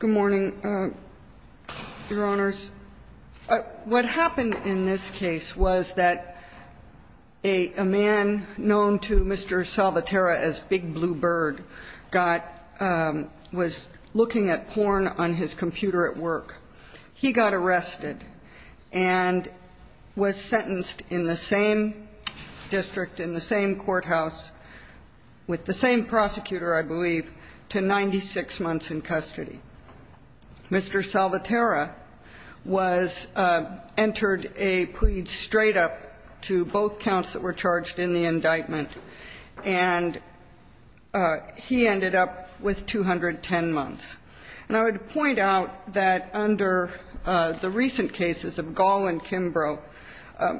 Good morning, Your Honors. What happened in this case was that a man known to Mr. Salvatierra as Big Blue Bird was looking at porn on his computer at work. He got arrested and was sentenced in the same district, in the same courthouse, with the same prosecutor, I believe, to 96 months in custody. Mr. Salvatierra entered a plea straight up to both counts that were charged in the indictment, and he ended up with 210 months. And I would point out that under the recent cases of Gall and Kimbrough,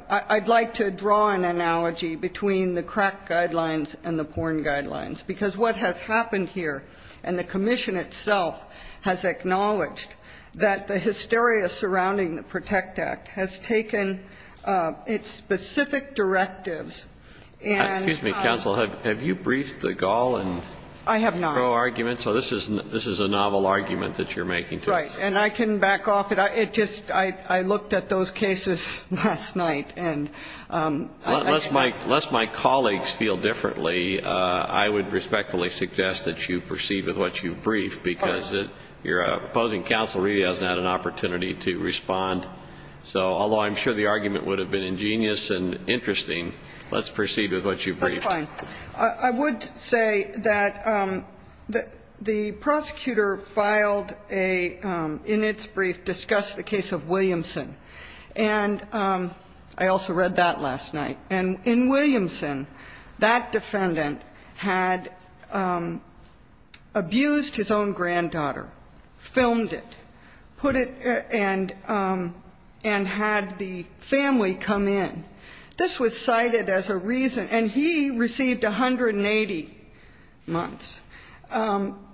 I'd like to draw an analogy between the crack guidelines and the porn guidelines, because what has happened here, and the Commission itself has acknowledged that the hysteria surrounding the PROTECT Act has taken its specific directives and Excuse me, Counsel, have you briefed the Gall and Kimbrough arguments? I have not. The Kimbrough arguments? So this is a novel argument that you're making to us. Right, and I can back off. I looked at those cases last night and Unless my colleagues feel differently, I would respectfully suggest that you proceed with what you've briefed, because your opposing counsel really hasn't had an opportunity to respond. So, although I'm sure the argument would have been ingenious and interesting, let's proceed with what you've briefed. I would say that the prosecutor filed a, in its brief, discussed the case of Williamson. And I also read that last night. And in Williamson, that defendant had abused his own granddaughter, filmed it, put it and had the family come in. This was cited as a reason, and he received 180 months.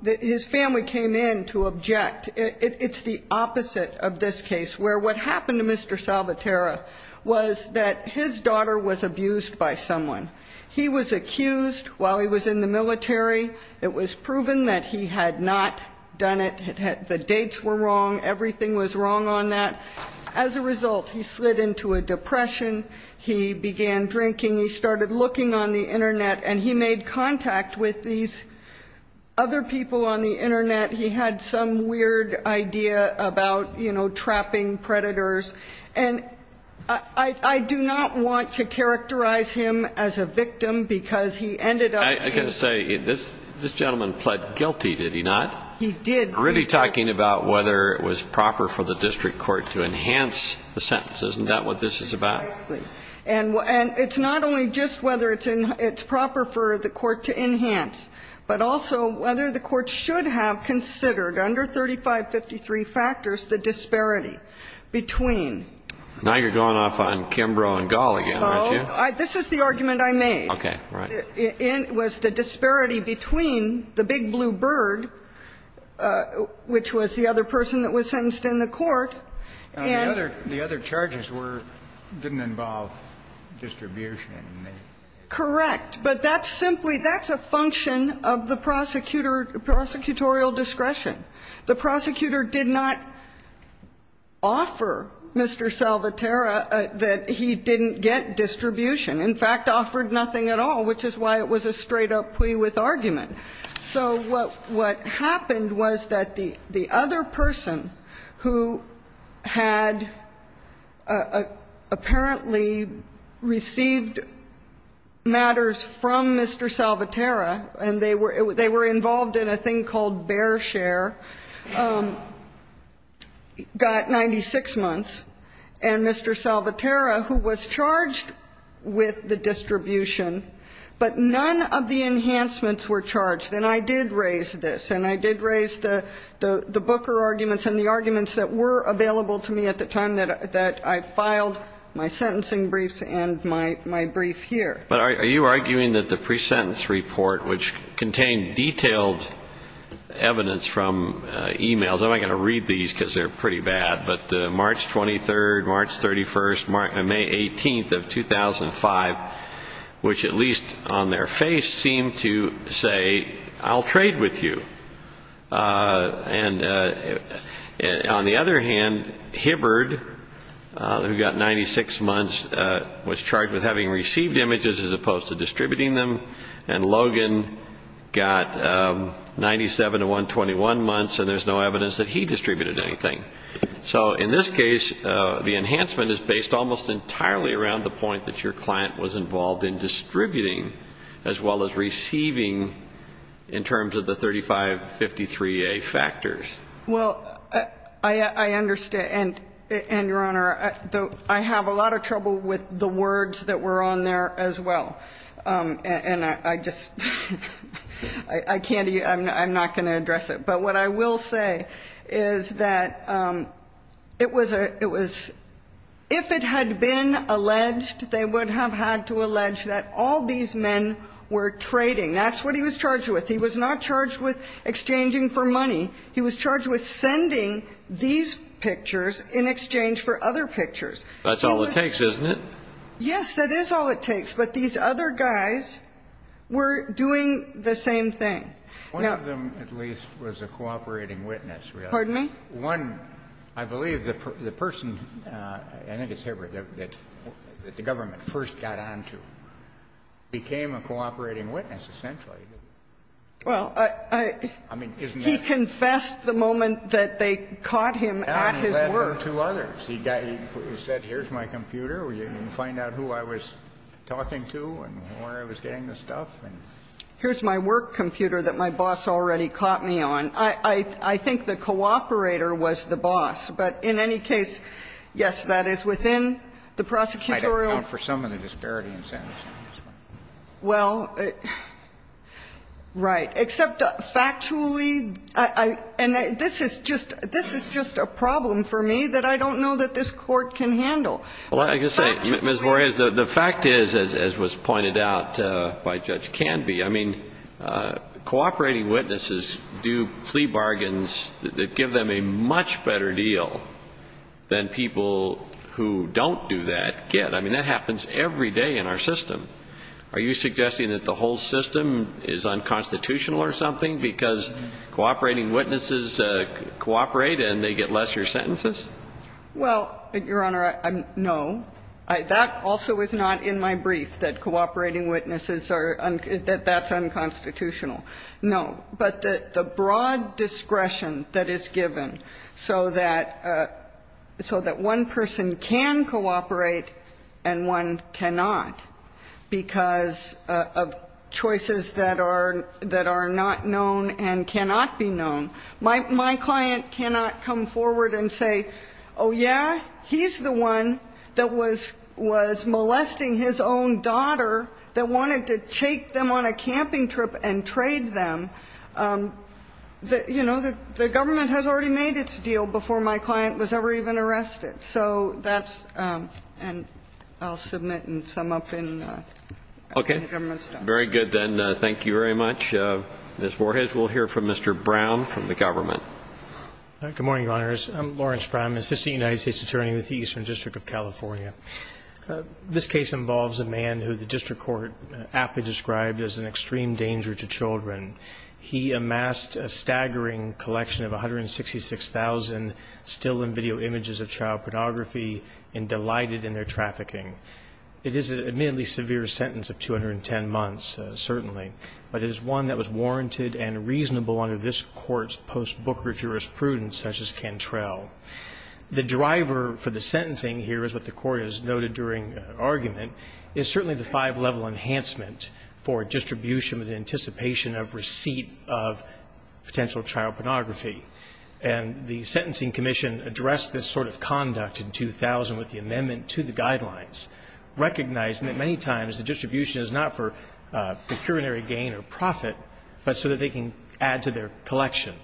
His family came in to object. It's the opposite of this case, where what happened to Mr. Salvaterra was that his daughter was abused by someone. He was accused while he was in the military. It was proven that he had not done it. The dates were wrong. Everything was wrong on that. As a result, he slid into a depression. He began drinking. He started looking on the Internet. And he made contact with these other people on the Internet. He had some weird idea about, you know, trapping predators. And I do not want to characterize him as a victim, because he ended up And it's not only just whether it's proper for the court to enhance, but also whether the court should have considered, under 3553 factors, the disparity between Now you're going off on Kimbrough and Gall again, aren't you? Oh, this is the argument I made. Okay. Right. It was the disparity between the big blue bird, which was the other person that was sentenced in the court, and The other charges were, didn't involve distribution. Correct. But that's simply, that's a function of the prosecutor, prosecutorial discretion. The prosecutor did not offer Mr. Salvaterra that he didn't get distribution. In fact, offered nothing at all, which is why it was a straight up plea with argument. So what happened was that the other person who had apparently received matters from Mr. Salvaterra, and they were involved in a thing called Bear Share, got 96 months. And Mr. Salvaterra, who was charged with the distribution, but none of the enhancements were charged. And I did raise this. And I did raise the Booker arguments and the arguments that were available to me at the time that I filed my sentencing briefs and my brief here. But are you arguing that the pre-sentence report, which contained detailed evidence from e-mails, I'm not going to read these because they're pretty bad, but March 23rd, March 31st, May 18th of 2005, which at least on their face seemed to say, I'll trade with you. And on the other hand, Hibbard, who got 96 months, was charged with having received images as opposed to distributing them. And Logan got 97 to 121 months, and there's no evidence that he distributed anything. So in this case, the enhancement is based almost entirely around the point that your client was involved in distributing as well as receiving in terms of the 3553A factors. Well, I understand. And, Your Honor, I have a lot of trouble with the words that were on there as well. And I just, I can't, I'm not going to address it. But what I will say is that it was, it was, if it had been alleged, they would have had to allege that all these men were trading. That's what he was charged with. He was not charged with exchanging for money. He was charged with sending these pictures in exchange for other pictures. That's all it takes, isn't it? Yes, that is all it takes. But these other guys were doing the same thing. One of them, at least, was a cooperating witness. Pardon me? One, I believe the person, I think it's Hibberd, that the government first got on to became a cooperating witness, essentially. Well, I, I, I mean, isn't that? He confessed the moment that they caught him at his work. He said, here's my computer, you can find out who I was talking to and where I was getting the stuff. Here's my work computer that my boss already caught me on. I, I, I think the cooperator was the boss. But in any case, yes, that is within the prosecutorial. I don't count for some of the disparity incentives. Well, right. Except factually, I, I, and this is just, this is just a problem for me that I don't know that this Court can handle. Well, I can say, Ms. Voreis, the fact is, as was pointed out by Judge Canby, I mean, cooperating witnesses do plea bargains that give them a much better deal than people who don't do that get. I mean, that happens every day in our system. Are you suggesting that the whole system is unconstitutional or something because cooperating witnesses cooperate and they get lesser sentences? Well, Your Honor, I'm, no. I, that also is not in my brief that cooperating witnesses are, that that's unconstitutional. No. But the, the broad discretion that is given so that, so that one person can cooperate and one cannot because of choices that are, that are not known and cannot be known. My, my client cannot come forward and say, oh, yeah, he's the one that was, was molesting his own daughter that wanted to take them on a camping trip and trade them. You know, the, the government has already made its deal before my client was ever even arrested. So that's, and I'll submit and sum up in, in the government stuff. Okay. Very good then. Thank you very much. Ms. Voorhees, we'll hear from Mr. Brown from the government. Good morning, Your Honors. I'm Lawrence Brown, assistant United States attorney with the Eastern District of California. This case involves a man who the district court aptly described as an extreme danger to children. He amassed a staggering collection of 166,000 still in video images of child pornography and delighted in their trafficking. It is an admittedly severe sentence of 210 months, certainly. But it is one that was warranted and reasonable under this court's post-Booker jurisprudence, such as Cantrell. The driver for the sentencing here is what the court has noted during argument is certainly the five-level enhancement for distribution with anticipation of receipt of potential child pornography. And the sentencing commission addressed this sort of conduct in 2000 with the amendment to the guidelines, recognizing that many times the distribution is not for procuratory gain or profit, but so that they can add to their collection.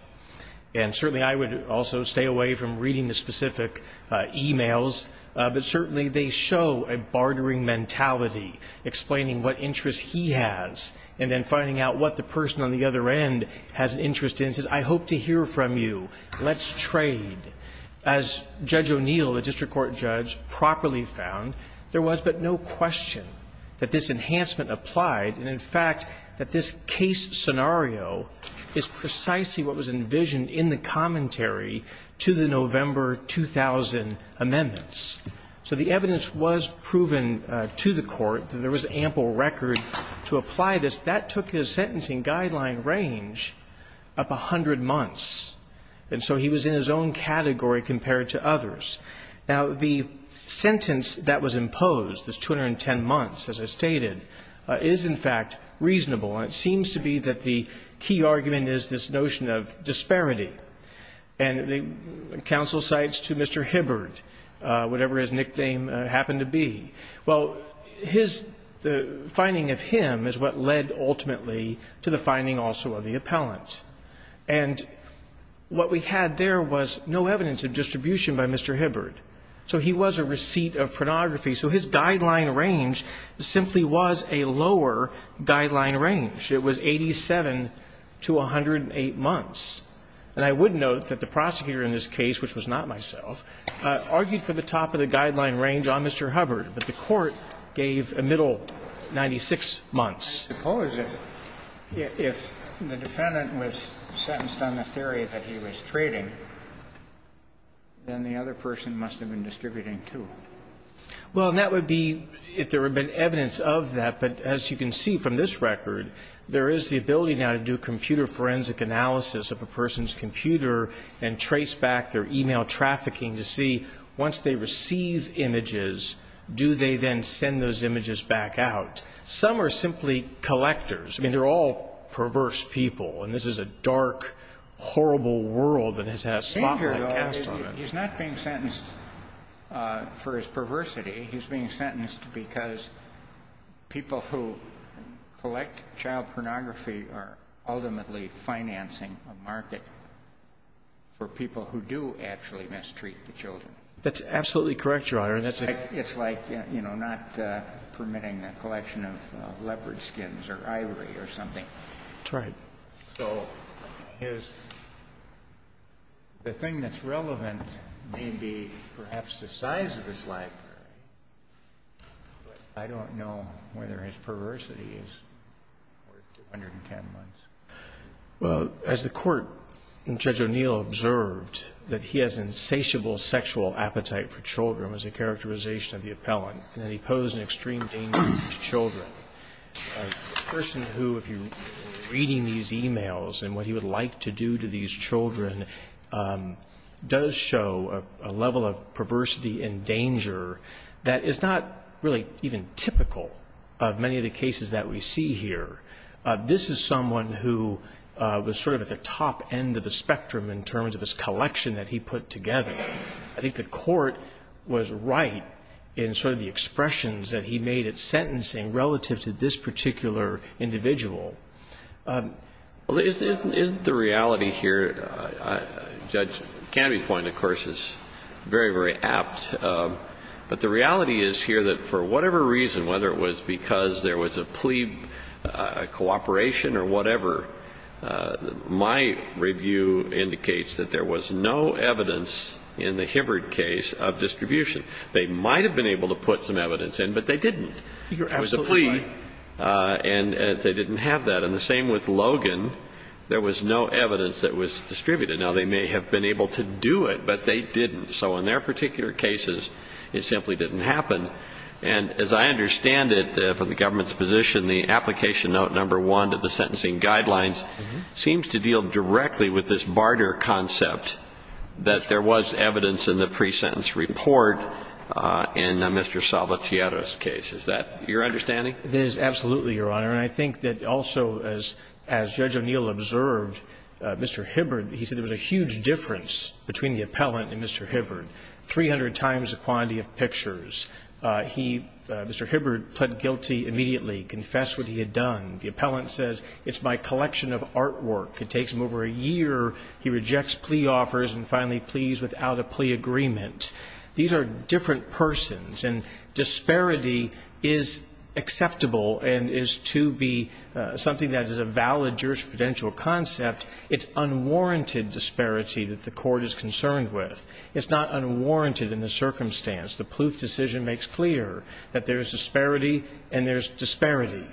And certainly I would also stay away from reading the specific e-mails, but certainly they show a bartering mentality, explaining what interest he has and then finding out what the person on the other end has an interest in, says, I hope to hear from you. Let's trade. As Judge O'Neill, the district court judge, properly found, there was but no question that this enhancement applied and, in fact, that this case scenario is precisely what was envisioned in the commentary to the November 2000 amendments. So the evidence was proven to the court that there was ample record to apply this. That took his sentencing guideline range up 100 months. And so he was in his own category compared to others. Now, the sentence that was imposed, this 210 months, as I stated, is, in fact, reasonable. And it seems to be that the key argument is this notion of disparity. And the counsel cites to Mr. Hibbard, whatever his nickname happened to be. Well, his finding of him is what led ultimately to the finding also of the appellant. And what we had there was no evidence of distribution by Mr. Hibbard. So he was a receipt of pornography. So his guideline range simply was a lower guideline range. It was 87 to 108 months. And I would note that the prosecutor in this case, which was not myself, argued for the top of the guideline range on Mr. Hubbard. But the court gave a middle 96 months. I suppose if the defendant was sentenced on the theory that he was trading, then the other person must have been distributing, too. Well, and that would be if there had been evidence of that. But as you can see from this record, there is the ability now to do computer forensic analysis of a person's computer and trace back their e-mail trafficking to see, once they receive images, do they then send those images back out? Some are simply collectors. I mean, they're all perverse people. And this is a dark, horrible world that has had a spotlight cast on it. He's not being sentenced for his perversity. He's being sentenced because people who collect child pornography are ultimately financing a market for people who do actually mistreat the children. That's absolutely correct, Your Honor. It's like, you know, not permitting a collection of leopard skins or ivory or something. That's right. So the thing that's relevant may be perhaps the size of this library. But I don't know whether his perversity is more than 110 months. Well, as the Court, and Judge O'Neill observed, that he has an insatiable sexual appetite for children as a characterization of the appellant, and that he posed an extreme danger to children. A person who, if you're reading these e-mails and what he would like to do to these children, does show a level of perversity and danger that is not really even typical of many of the cases that we see here. This is someone who was sort of at the top end of the spectrum in terms of his collection that he put together. I think the Court was right in sort of the expressions that he made at sentencing relative to this particular individual. Well, isn't the reality here, Judge Canopy's point, of course, is very, very apt. But the reality is here that for whatever reason, whether it was because there was a plea cooperation or whatever, my review indicates that there was no evidence in the Hibbard case of distribution. They might have been able to put some evidence in, but they didn't. You're absolutely right. It was a plea, and they didn't have that. And the same with Logan. There was no evidence that was distributed. Now, they may have been able to do it, but they didn't. So in their particular cases, it simply didn't happen. And as I understand it, from the government's position, the application note number 1 to the sentencing guidelines seems to deal directly with this barter concept that there was evidence in the pre-sentence report in Mr. Salvatier's case. Is that your understanding? It is absolutely, Your Honor. And I think that also, as Judge O'Neill observed, Mr. Hibbard, he said there was a huge difference between the appellant and Mr. Hibbard, 300 times the quantity of pictures. He, Mr. Hibbard, pled guilty immediately, confessed what he had done. The appellant says, it's my collection of artwork. It takes him over a year. He rejects plea offers and finally pleads without a plea agreement. These are different persons, and disparity is acceptable and is to be something that is a valid jurisprudential concept. It's unwarranted disparity that the court is concerned with. It's not unwarranted in the circumstance. The Plouffe decision makes clear that there is disparity and there is disparity.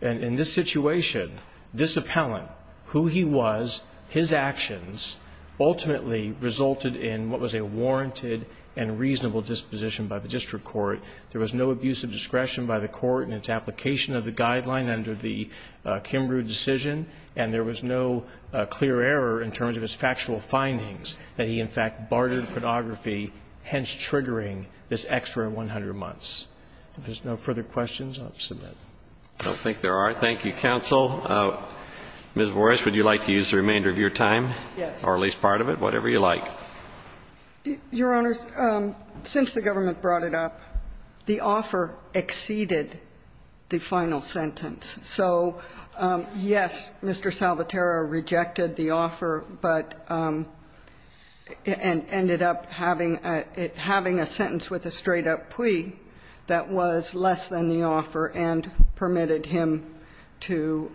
And in this situation, this appellant, who he was, his actions ultimately resulted in what was a warranted and reasonable disposition by the district court. There was no abuse of discretion by the court in its application of the guideline under the Kimbrough decision, and there was no clear error in terms of his factual findings that he, in fact, bartered pornography, hence triggering this extra 100 months. If there's no further questions, I'll submit. Roberts. I don't think there are. Thank you, counsel. Ms. Vorisch, would you like to use the remainder of your time? Yes. Or at least part of it, whatever you like. Your Honors, since the government brought it up, the offer exceeded the final sentence So, yes, Mr. Salvatara rejected the offer, but ended up having a sentence with a straight-up plea that was less than the offer and permitted him to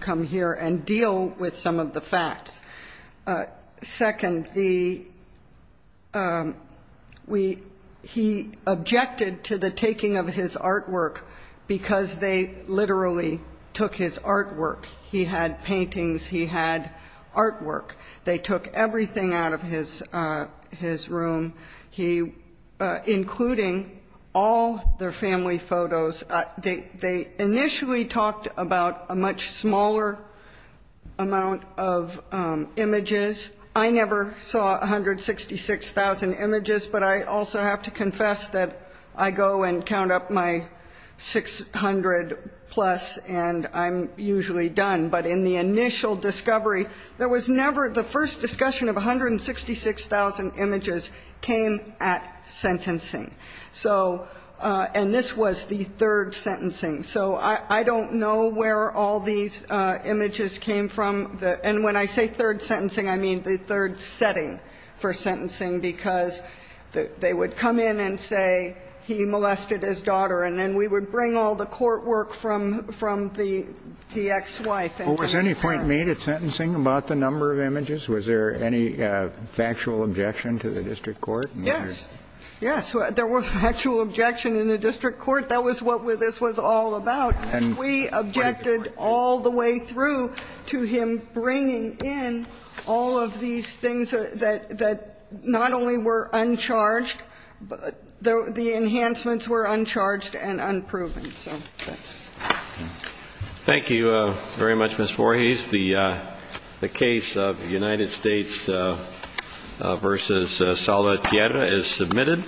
come here and deal with some of the facts. Second, he objected to the taking of his artwork because they literally took his artwork. He had paintings. He had artwork. They took everything out of his room, including all their family photos. They initially talked about a much smaller amount of images. I never saw 166,000 images, but I also have to confess that I go and count up my 600 plus, and I'm usually done. But in the initial discovery, there was never the first discussion of 166,000 images came at sentencing. So, and this was the third sentencing. So I don't know where all these images came from. And when I say third sentencing, I mean the third setting for sentencing, because they would come in and say he molested his daughter, and then we would bring all the court work from the ex-wife. Well, was any point made at sentencing about the number of images? Was there any factual objection to the district court? Yes. Yes, there was factual objection in the district court. That was what this was all about. And we objected all the way through to him bringing in all of these things that not only were uncharged, but the enhancements were uncharged and unproven. So, thanks. Thank you very much, Ms. Voorhees. The case of United States v. Salvatierra is submitted.